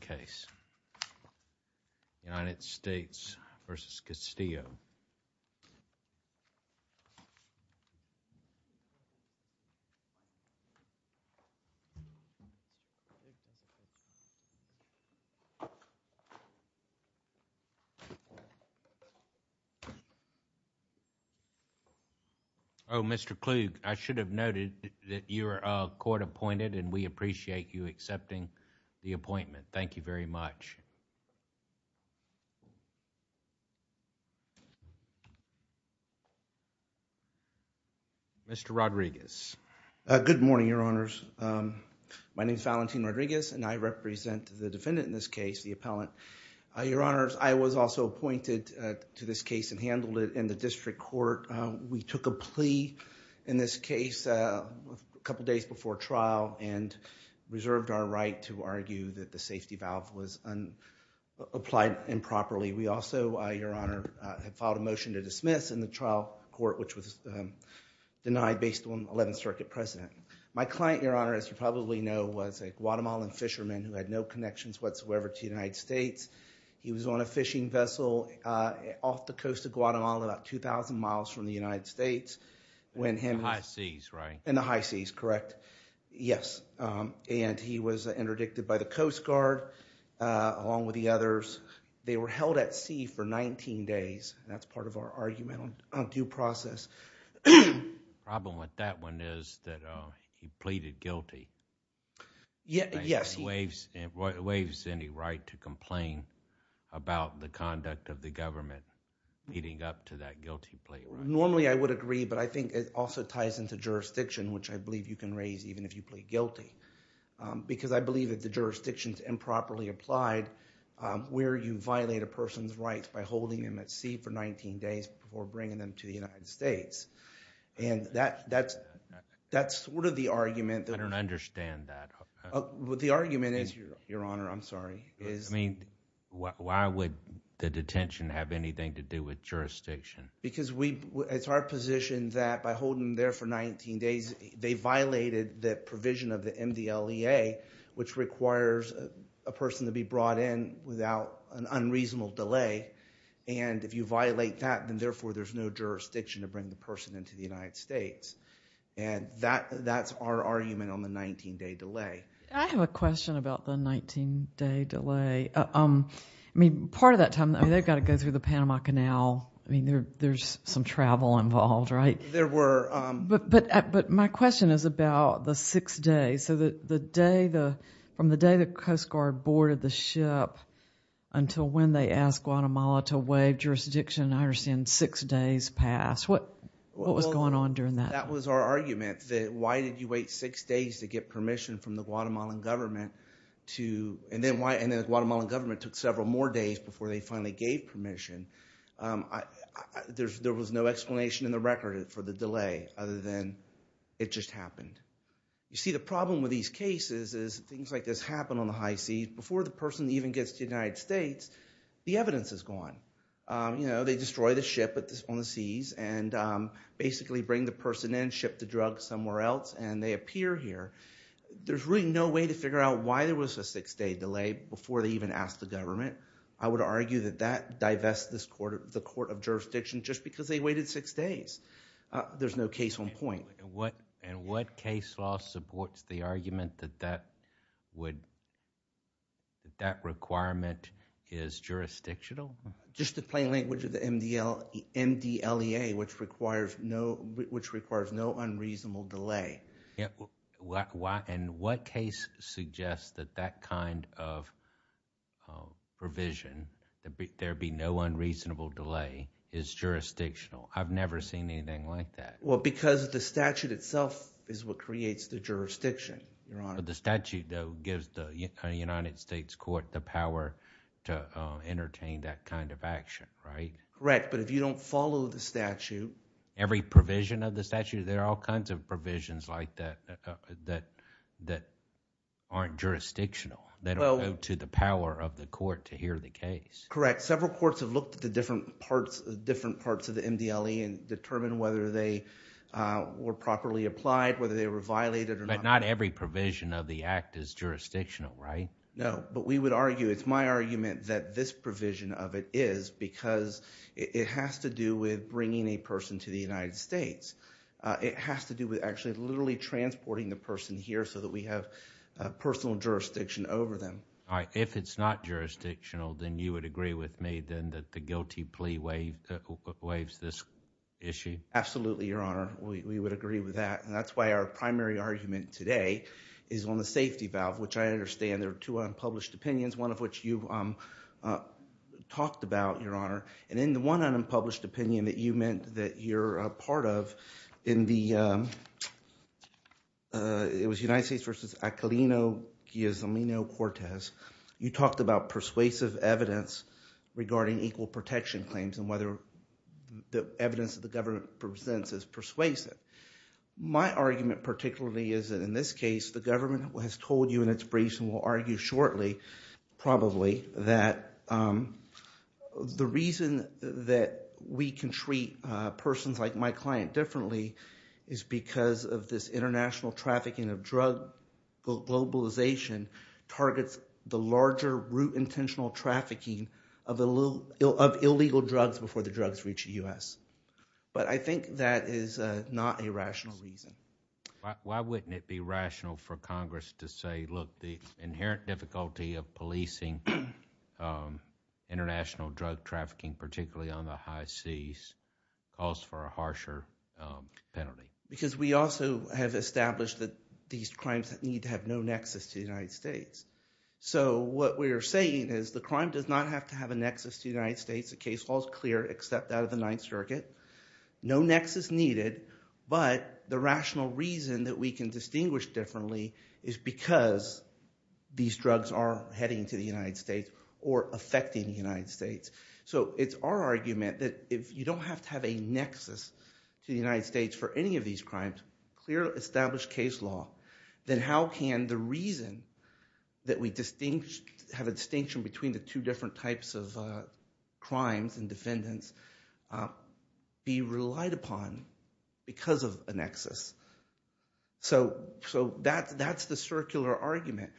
case United States v. Castillo. Oh, Mr Kluge, I should have noted that you're court appointed and we thank you very much. Mr. Rodriguez. Good morning, Your Honors. My name is Valentin Rodriguez and I represent the defendant in this case, the appellant. Your Honors, I was also appointed to this case and handled it in the district court. We took a plea in this case a couple of years ago. We had the right to argue that the safety valve was applied improperly. We also, Your Honor, have filed a motion to dismiss in the trial court, which was denied based on 11th Circuit precedent. My client, Your Honor, as you probably know, was a Guatemalan fisherman who had no connections whatsoever to the United States. He was on a fishing vessel off the coast of Guatemala, about 2,000 miles from the United States. In the high seas, correct? Yes. And he was interdicted by the Coast Guard, along with the others. They were held at sea for 19 days. That's part of our argument on due process. The problem with that one is that he pleaded guilty. Yes. Waives any right to complain about the conduct of the government leading up to that guilty plea. Normally, I would agree, but I think it also ties into jurisdiction, which I believe you can raise even if you plead guilty, because I believe that the jurisdiction is improperly applied where you violate a person's rights by holding them at sea for 19 days before bringing them to the United States. That's sort of the argument. I don't understand that. The argument is, Your Honor, I'm sorry. Why would the detention have anything to do with jurisdiction? It's our position that by holding them there for 19 days, they violated the provision of the MDLEA, which requires a person to be brought in without an unreasonable delay. And if you violate that, then therefore there's no jurisdiction to bring the person into the United States. And that's our argument on the 19-day delay. I have a question about the 19-day delay. I mean, part of that time, they've got to go through the Panama Canal. I mean, there's some travel involved, right? But my question is about the six days. From the day the Coast Guard boarded the ship until when they asked Guatemala to waive jurisdiction, I understand six days passed. What was going on during that? That was our argument, that why did you wait six days to get permission from the Guatemalan government? And then the Guatemalan government took several more days before they finally gave permission. There was no explanation in the record for the delay other than it just happened. You see, the problem with these cases is things like this happen on the high seas. Before the person even gets to the United States, the evidence is gone. They destroy the ship on the seas and basically bring the person in, ship the drug somewhere else, and they appear here. There's really no way to figure out why there was a six-day delay before they even asked the government. I would argue that that divests the Court of Jurisdiction just because they waited six days. There's no case on point. And what case law supports the argument that that requirement is jurisdictional? Just the plain language of the MDLEA, which requires no unreasonable delay. And what case suggests that that kind of provision, that there be no unreasonable delay, is jurisdictional? I've never seen anything like that. Well, because the statute itself is what creates the jurisdiction, Your Honor. But the statute, though, gives the United States court the power to entertain that kind of action, right? Correct, but if you don't follow the statute... Every provision of the statute, there are all kinds of provisions like that that aren't jurisdictional. They don't go to the power of the court to hear the case. Correct. Several courts have looked at the different parts of the MDLEA and determined whether they were properly applied, whether they were violated or not. But not every provision of the act is jurisdictional, right? No, but we would argue, it's my argument, that this provision of it is because it has to do with bringing a person to the United States. It has to do with actually literally transporting the person here so that we have personal jurisdiction over them. If it's not jurisdictional, then you would agree with me that the guilty plea waives this issue? Absolutely, Your Honor. We would agree with that. And that's why our primary argument today is on the safety valve, which I understand there are two unpublished opinions, one of which you talked about, Your Honor. And in the one unpublished opinion that you meant that you're a part of, it was United States v. Echolino-Guizamino-Cortez. You talked about persuasive evidence regarding equal protection claims and whether the evidence that the government presents is persuasive. My argument particularly is that in this case, the government has told you in its briefs and will argue shortly, probably, that the reason that we can treat persons like my client differently is because of this international trafficking of drug globalization targets the larger root intentional trafficking of illegal drugs before the drugs reach the U.S. But I think that is not a rational reason. Why wouldn't it be rational for Congress to say, look, the inherent difficulty of policing international drug trafficking, particularly on the high seas, calls for a harsher penalty? Because we also have established that these crimes need to have no nexus to the United States. So what we're saying is the crime does not have to have a nexus to the United States. The case law is clear except out of the Ninth Circuit. No nexus needed, but the rational reason that we can distinguish differently is because these drugs are heading to the United States or affecting the United States. So it's our argument that if you don't have to have a nexus to the United States for any of these crimes, clear established case law, then how can the reason that we have a distinction between the two different types of crimes and defendants be relied upon because of a nexus? So that's the circular argument.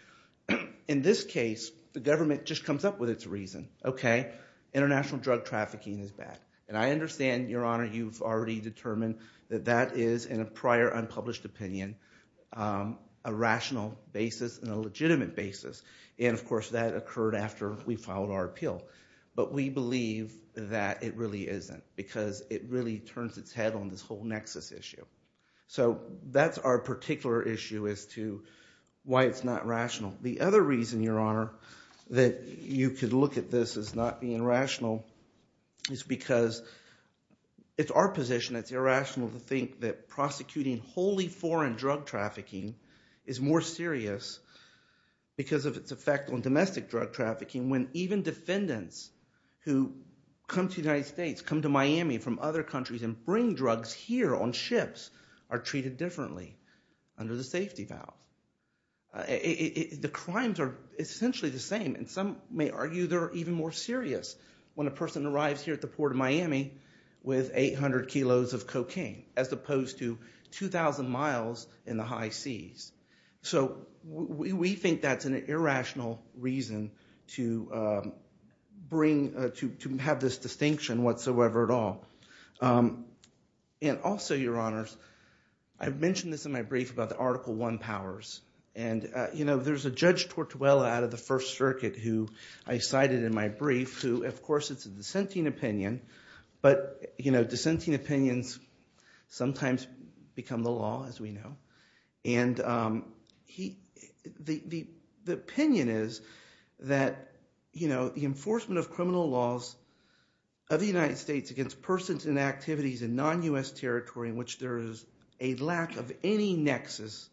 In this case, the government just comes up with its reason. Okay, international drug trafficking is bad. And I understand, Your Honor, you've already determined that that is, in a prior unpublished opinion, a rational basis and a legitimate basis. And, of course, that occurred after we filed our appeal. But we believe that it really isn't because it really turns its head on this whole nexus issue. So that's our particular issue as to why it's not rational. The other reason, Your Honor, that you could look at this as not being rational is because it's our position. It's irrational to think that prosecuting wholly foreign drug trafficking is more serious because of its effect on domestic drug trafficking when even defendants who come to the United States, come to Miami from other countries and bring drugs here on ships are treated differently under the safety valve. The crimes are essentially the same, and some may argue they're even more serious when a person arrives here at the Port of Miami with 800 kilos of cocaine as opposed to 2,000 miles in the high seas. So we think that's an irrational reason to have this distinction whatsoever at all. And also, Your Honors, I've mentioned this in my brief about the Article I powers. And, you know, there's a Judge Tortuella out of the First Circuit who I cited in my brief who, of course, it's a dissenting opinion, but, you know, dissenting opinions sometimes become the law, as we know. And the opinion is that, you know, the enforcement of criminal laws of the United States against persons and activities in non-U.S. territory in which there is a lack of any nexus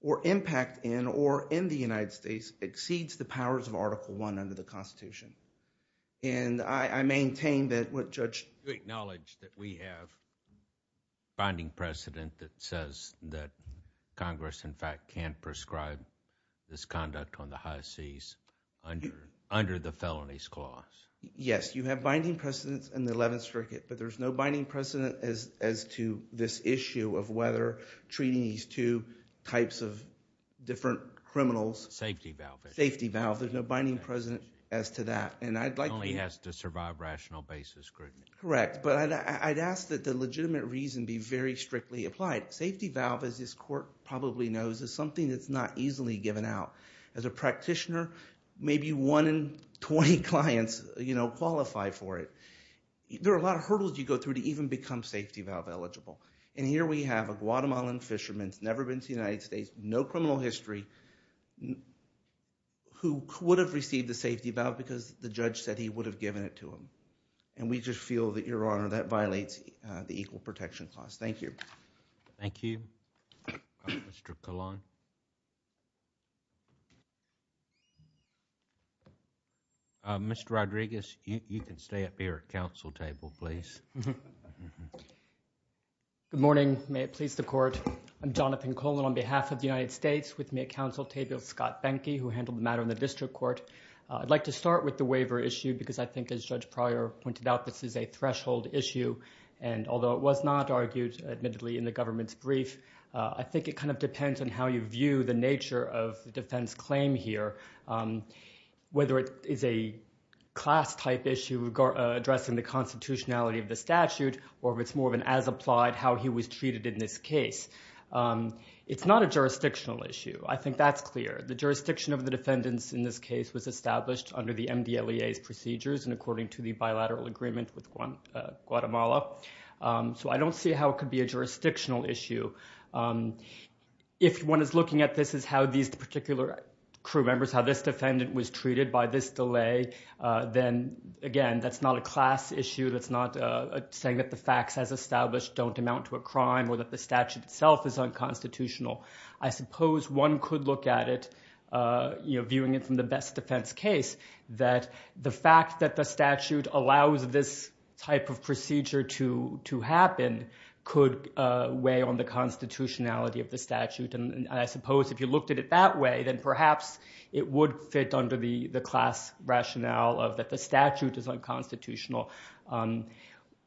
or impact in or in the United States exceeds the powers of Article I under the Constitution. And I maintain that what Judge... You acknowledge that we have binding precedent that says that Congress, in fact, can't prescribe this conduct on the high seas under the Felonies Clause? Yes, you have binding precedent in the Eleventh Circuit, but there's no binding precedent as to this issue of whether treating these two types of different criminals... Safety valve. Safety valve. There's no binding precedent as to that. And I'd like... It only has to survive rational basis scrutiny. Correct. But I'd ask that the legitimate reason be very strictly applied. Safety valve, as this Court probably knows, is something that's not easily given out. As a practitioner, maybe one in 20 clients, you know, qualify for it. There are a lot of hurdles you go through to even become safety valve eligible. And here we have a Guatemalan fisherman who's never been to the United States, no criminal history, who would have received the safety valve because the judge said he would have given it to him. And we just feel that, Your Honor, that violates the Equal Protection Clause. Thank you. Thank you. Mr. Colon? Mr. Rodriguez, you can stay up here at the Council table, please. Good morning. May it please the Court. I'm Jonathan Colon on behalf of the United States, with me at Council table is Scott Benke, who handled the matter in the District Court. I'd like to start with the waiver issue because I think, as Judge Pryor pointed out, this is a threshold issue. And although it was not argued, admittedly, in the government's brief, I think it kind of depends on how you view the nature of the defense claim here, whether it is a class-type issue addressing the constitutionality of the statute or if it's more of an as-applied, how he was treated in this case. It's not a jurisdictional issue. I think that's clear. The jurisdiction of the defendants in this case was established under the MDLEA's procedures and according to the bilateral agreement with Guatemala. So I don't see how it could be a jurisdictional issue. If one is looking at this as how these particular crew members, how this defendant was treated by this delay, then, again, that's not a class issue. That's not saying that the facts as established don't amount to a crime or that the statute itself is unconstitutional. I suppose one could look at it, you know, viewing it from the best defense case, that the fact that the statute allows this type of procedure to happen could weigh on the constitutionality of the statute. And I suppose if you looked at it that way, then perhaps it would fit under the class rationale of that the statute is unconstitutional.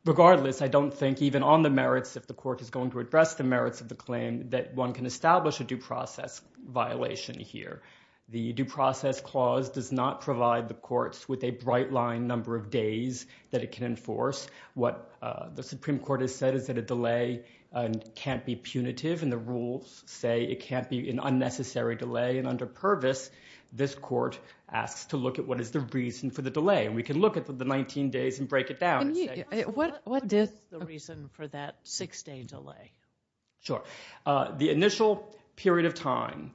Regardless, I don't think even on the merits, if the court is going to address the merits of the claim, that one can establish a due process violation here. The due process clause does not provide the courts with a bright line number of days that it can enforce. What the Supreme Court has said is that a delay can't be punitive and the rules say it can't be an unnecessary delay. And under Purvis, this court asks to look at what is the reason for the delay. And we can look at the 19 days and break it down. What is the reason for that six-day delay? Sure. The initial period of time,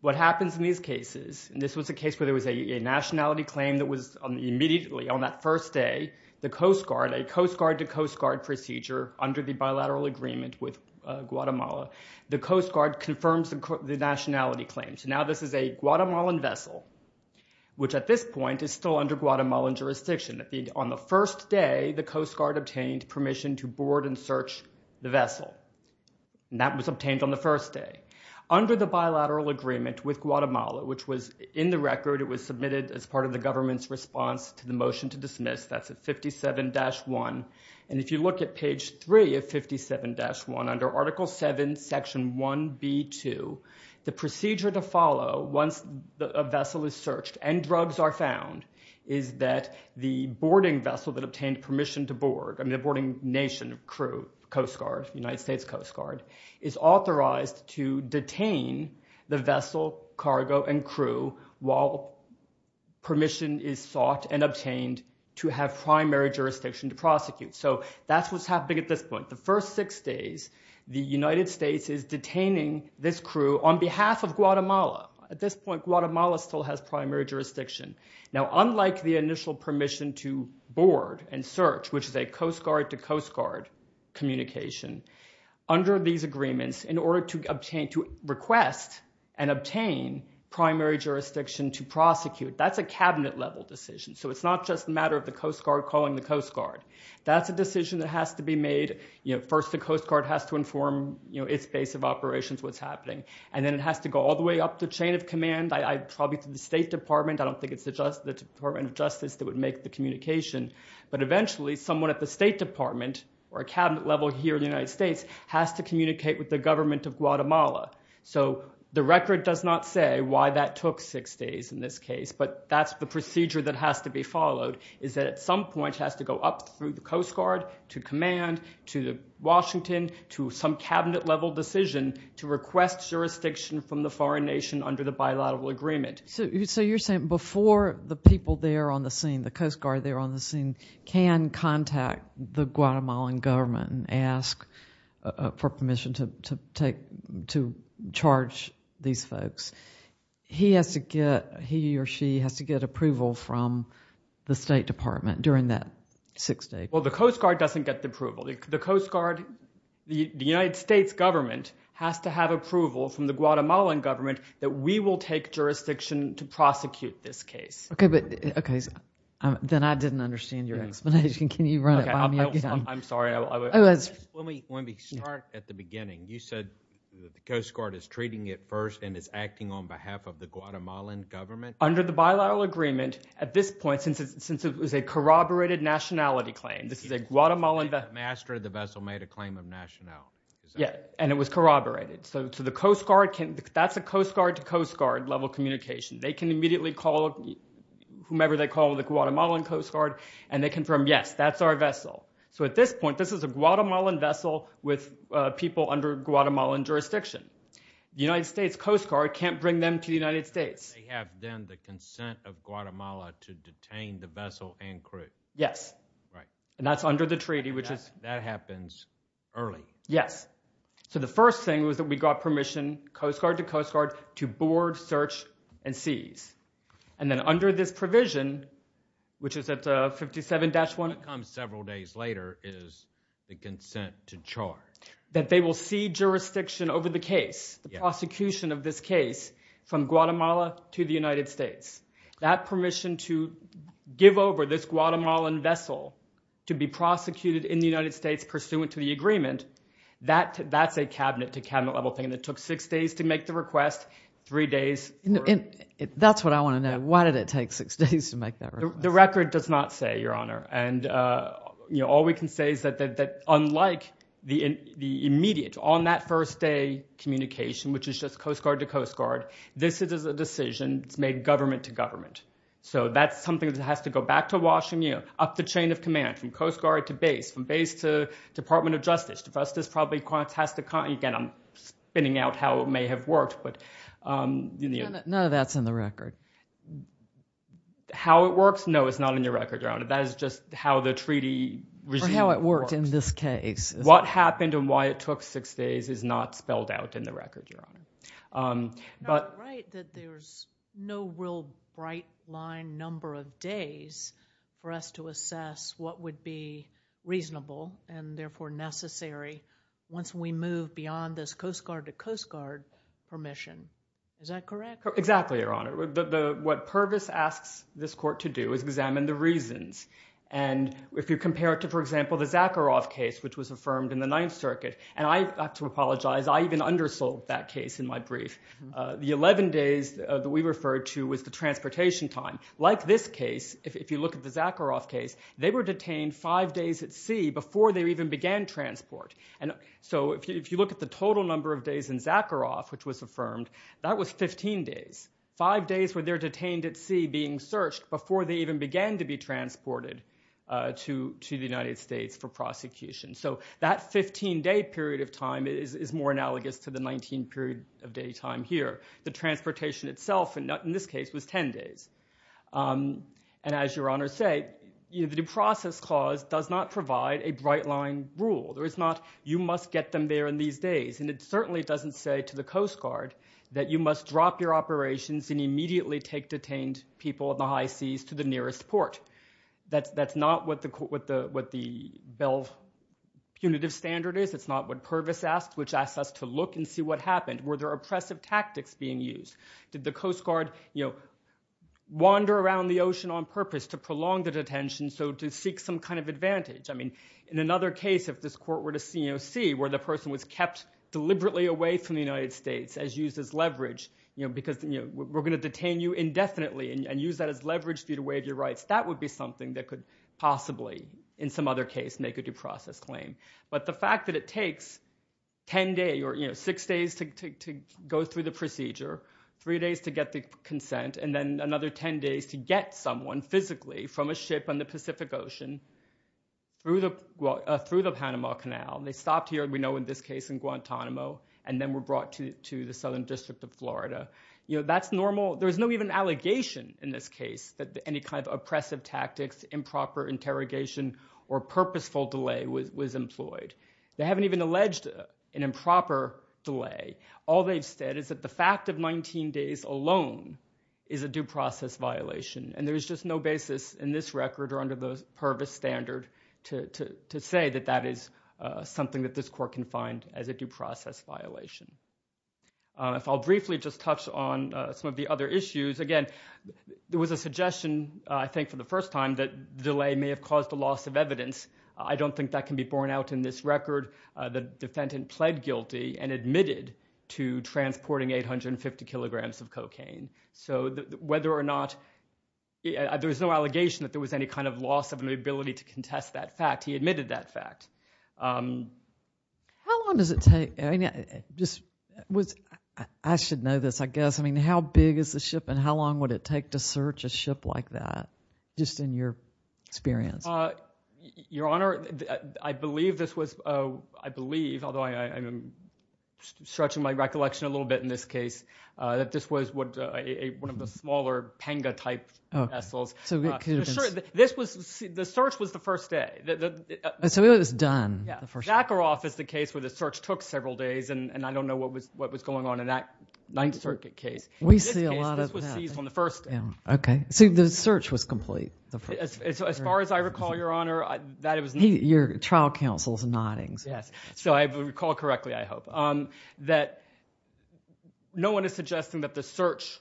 what happens in these cases, and this was a case where there was a nationality claim that was immediately, on that first day, the Coast Guard, a Coast Guard-to-Coast Guard procedure under the bilateral agreement with Guatemala, the Coast Guard confirms the nationality claim. So now this is a Guatemalan vessel, which at this point is still under Guatemalan jurisdiction. On the first day, the Coast Guard obtained permission to board and search the vessel, and that was obtained on the first day. Under the bilateral agreement with Guatemala, which was in the record, it was submitted as part of the government's response to the motion to dismiss, that's at 57-1, and if you look at page 3 of 57-1, under Article 7, Section 1B2, the procedure to follow once a vessel is searched and drugs are found is that the boarding vessel that obtained permission to board, I mean the boarding nation, crew, Coast Guard, United States Coast Guard, is authorized to detain the vessel, cargo, and crew while permission is sought and obtained to have primary jurisdiction to prosecute. So that's what's happening at this point. The first six days, the United States is detaining this crew on behalf of Guatemala. At this point, Guatemala still has primary jurisdiction. Now unlike the initial permission to board and search, which is a Coast Guard to Coast Guard communication, under these agreements, in order to request and obtain primary jurisdiction to prosecute, that's a cabinet-level decision, so it's not just a matter of the Coast Guard calling the Coast Guard. That's a decision that has to be made. First the Coast Guard has to inform its base of operations what's happening, and then it has to go all the way up the chain of command, probably to the State Department. I don't think it's the Department of Justice that would make the communication, but eventually someone at the State Department or a cabinet level here in the United States has to communicate with the government of Guatemala. So the record does not say why that took six days in this case, but that's the procedure that has to be followed, is that at some point it has to go up through the Coast Guard to command, to Washington, to some cabinet-level decision to request jurisdiction from the foreign nation under the bilateral agreement. So you're saying before the people there on the scene, the Coast Guard there on the scene, can contact the Guatemalan government and ask for permission to charge these folks, he or she has to get approval from the State Department during that six days? Well, the Coast Guard doesn't get the approval. The Coast Guard, the United States government, has to have approval from the Guatemalan government that we will take jurisdiction to prosecute this case. Okay, but then I didn't understand your explanation. Can you run it by me again? I'm sorry. Let me start at the beginning. You said the Coast Guard is treating it first and is acting on behalf of the Guatemalan government? Under the bilateral agreement, at this point, since it was a corroborated nationality claim, this is a Guatemalan— The master of the vessel made a claim of nationality. Yeah, and it was corroborated. So the Coast Guard can—that's a Coast Guard-to-Coast Guard-level communication. They can immediately call whomever they call the Guatemalan Coast Guard, and they confirm, yes, that's our vessel. So at this point, this is a Guatemalan vessel with people under Guatemalan jurisdiction. The United States Coast Guard can't bring them to the United States. They have then the consent of Guatemala to detain the vessel and crew. Yes. Right. And that's under the treaty, which is— That happens early. Yes. So the first thing was that we got permission, Coast Guard-to-Coast Guard, to board, search, and seize. And then under this provision, which is at 57-1— What comes several days later is the consent to charge. That they will see jurisdiction over the case, the prosecution of this case, from Guatemala to the United States. That permission to give over this Guatemalan vessel to be prosecuted in the United States pursuant to the agreement, that's a Cabinet-to-Cabinet-level thing. And it took six days to make the request, three days for— That's what I want to know. Why did it take six days to make that request? The record does not say, Your Honor. And all we can say is that unlike the immediate, on-that-first-day communication, which is just Coast Guard-to-Coast Guard, this is a decision that's made government-to-government. So that's something that has to go back to Washington, up the chain of command from Coast Guard to base, from base to Department of Justice. To us, this probably has to— Again, I'm spinning out how it may have worked, but— None of that's in the record. How it works? No, it's not in the record, Your Honor. That is just how the treaty regime works. Or how it worked in this case. What happened and why it took six days is not spelled out in the record, Your Honor. But— It's not right that there's no real bright-line number of days for us to assess what would be reasonable and therefore necessary once we move beyond this Coast Guard-to-Coast Guard permission. Is that correct? Exactly, Your Honor. What Pervis asks this court to do is examine the reasons. And if you compare it to, for example, the Zakharov case, which was affirmed in the Ninth Circuit— And I have to apologize. I even undersold that case in my brief. The 11 days that we referred to was the transportation time. Like this case, if you look at the Zakharov case, they were detained five days at sea before they even began transport. So if you look at the total number of days in Zakharov, which was affirmed, that was 15 days, five days where they're detained at sea being searched before they even began to be transported to the United States for prosecution. So that 15-day period of time is more analogous to the 19-period of daytime here. The transportation itself in this case was 10 days. And as Your Honor said, the process clause does not provide a bright-line rule. You must get them there in these days. And it certainly doesn't say to the Coast Guard that you must drop your operations and immediately take detained people in the high seas to the nearest port. That's not what the Bell punitive standard is. It's not what Pervis asks, which asks us to look and see what happened. Were there oppressive tactics being used? Did the Coast Guard wander around the ocean on purpose to prolong the detention so to seek some kind of advantage? In another case, if this court were to see where the person was kept deliberately away from the United States as used as leverage because we're going to detain you indefinitely and use that as leverage for you to waive your rights, that would be something that could possibly in some other case make a due process claim. But the fact that it takes 10 days or six days to go through the procedure, three days to get the consent, and then another 10 days to get someone physically from a ship on the Pacific Ocean through the Panama Canal. They stopped here, we know in this case in Guantanamo, and then were brought to the Southern District of Florida. That's normal. There's no even allegation in this case that any kind of oppressive tactics, improper interrogation, or purposeful delay was employed. They haven't even alleged an improper delay. All they've said is that the fact of 19 days alone is a due process violation, and there is just no basis in this record or under the Pervis standard to say that that is something that this court can find as a due process violation. If I'll briefly just touch on some of the other issues, again, there was a suggestion I think for the first time that the delay may have caused a loss of evidence. I don't think that can be borne out in this record. The defendant pled guilty and admitted to transporting 850 kilograms of cocaine. So whether or not there was no allegation that there was any kind of loss of an ability to contest that fact, he admitted that fact. How long does it take? I should know this, I guess. I mean, how big is the ship and how long would it take to search a ship like that, just in your experience? Your Honor, I believe this was, I believe, although I'm stretching my recollection a little bit in this case, that this was one of the smaller panga-type vessels. The search was the first day. So it was done the first day. Zakharov is the case where the search took several days, and I don't know what was going on in that Ninth Circuit case. In this case, this was seized on the first day. Okay. So the search was complete the first day. As far as I recall, Your Honor, that it was not. Your trial counsel is nodding. Yes. So I recall correctly, I hope, that no one is suggesting that the search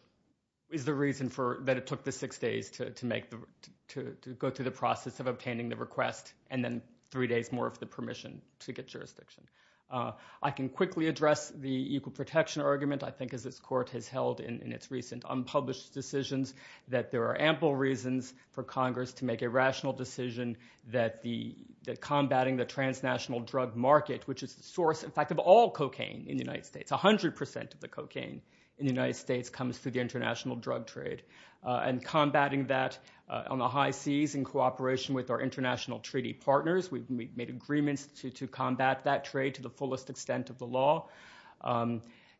is the reason that it took the six days to go through the process of obtaining the request and then three days more of the permission to get jurisdiction. I can quickly address the equal protection argument, I think, as this Court has held in its recent unpublished decisions, that there are ample reasons for Congress to make a rational decision that combating the transnational drug market, which is the source, in fact, of all cocaine in the United States, 100 percent of the cocaine in the United States comes through the international drug trade, and combating that on the high seas in cooperation with our international treaty partners. We've made agreements to combat that trade to the fullest extent of the law,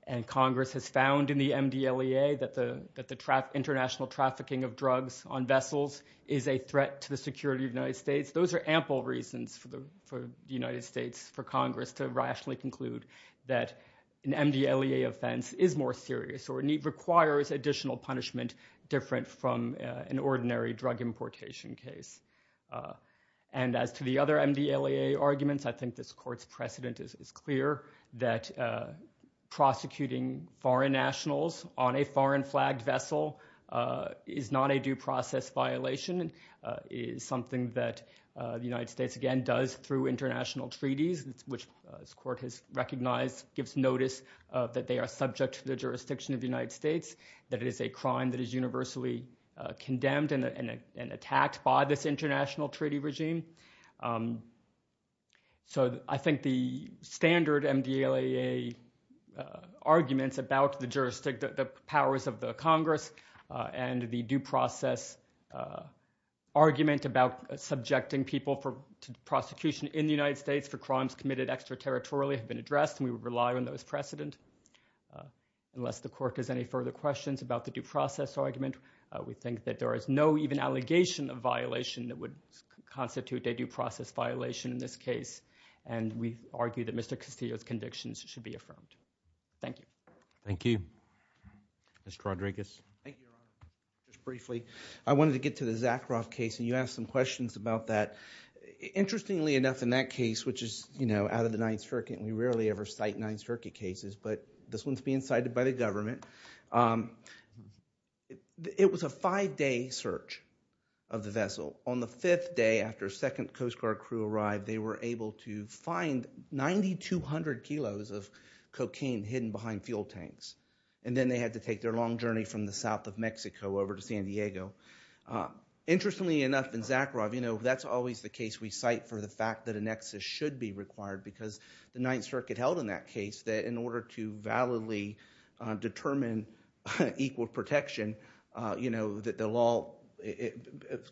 and Congress has found in the MDLEA that the international trafficking of drugs on vessels is a threat to the security of the United States. Those are ample reasons for the United States, for Congress, to rationally conclude that an MDLEA offense is more serious or requires additional punishment different from an ordinary drug importation case. And as to the other MDLEA arguments, I think this Court's precedent is clear, that prosecuting foreign nationals on a foreign flagged vessel is not a due process violation, is something that the United States, again, does through international treaties, which this Court has recognized gives notice that they are subject to the jurisdiction of the United States, that it is a crime that is universally condemned and attacked by this international treaty regime. So I think the standard MDLEA arguments about the powers of the Congress and the due process argument about subjecting people to prosecution in the United States for crimes committed extraterritorially have been addressed, and we rely on those precedent. Unless the Court has any further questions about the due process argument, we think that there is no even allegation of violation that would constitute a due process violation in this case, and we argue that Mr. Castillo's convictions should be affirmed. Thank you. Thank you. Mr. Rodriguez. Thank you, Your Honor. Just briefly, I wanted to get to the Zakharov case, and you asked some questions about that. Interestingly enough, in that case, which is, you know, out of the Ninth Circuit, and we rarely ever cite Ninth Circuit cases, but this one's being cited by the government, it was a five-day search of the vessel. On the fifth day, after a second Coast Guard crew arrived, they were able to find 9,200 kilos of cocaine hidden behind fuel tanks, and then they had to take their long journey from the south of Mexico over to San Diego. Interestingly enough, in Zakharov, you know, that's always the case we cite for the fact that a nexus should be required because the Ninth Circuit held in that case that in order to validly determine equal protection, you know, that the law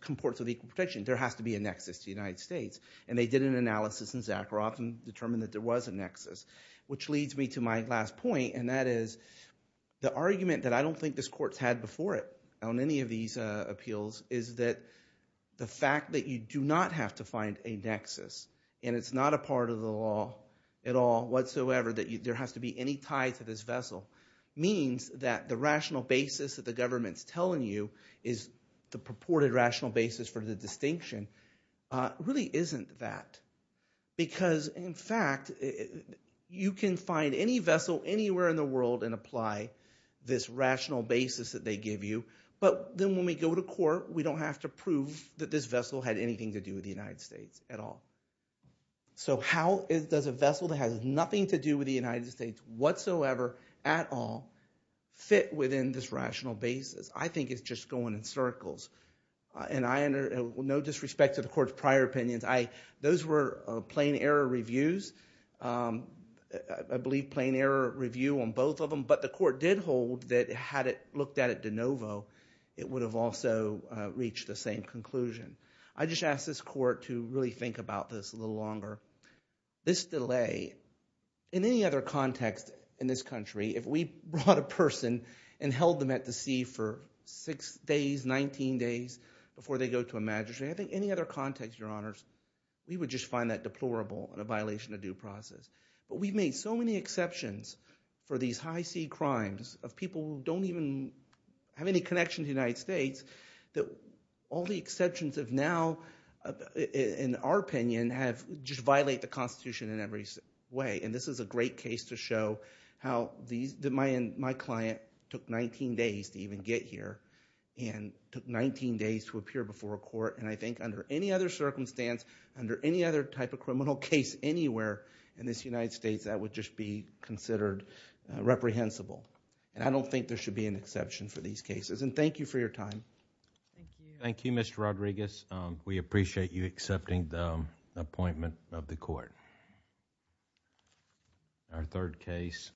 comports with equal protection, there has to be a nexus to the United States, and they did an analysis in Zakharov and determined that there was a nexus, which leads me to my last point, and that is the argument that I don't think this court's had before it on any of these appeals is that the fact that you do not have to find a nexus, and it's not a part of the law at all whatsoever that there has to be any tie to this vessel, means that the rational basis that the government's telling you is the purported rational basis for the distinction really isn't that because, in fact, you can find any vessel anywhere in the world and apply this rational basis that they give you, but then when we go to court, we don't have to prove that this vessel had anything to do with the United States at all. So how does a vessel that has nothing to do with the United States whatsoever at all fit within this rational basis? I think it's just going in circles, and no disrespect to the court's prior opinions. Those were plain error reviews. I believe plain error review on both of them, but the court did hold that had it looked at at de novo, it would have also reached the same conclusion. I just ask this court to really think about this a little longer. This delay, in any other context in this country, if we brought a person and held them at the sea for six days, 19 days before they go to a magistrate, I think any other context, Your Honors, we would just find that deplorable and a violation of due process. But we've made so many exceptions for these high-sea crimes of people who don't even have any connection to the United States that all the exceptions of now, in our opinion, just violate the Constitution in every way. And this is a great case to show how my client took 19 days to even get here and took 19 days to appear before a court. And I think under any other circumstance, under any other type of criminal case anywhere in this United States, that would just be considered reprehensible. And I don't think there should be an exception for these cases. And thank you for your time. Thank you. Thank you, Mr. Rodriguez. We appreciate you accepting the appointment of the court. Our third case.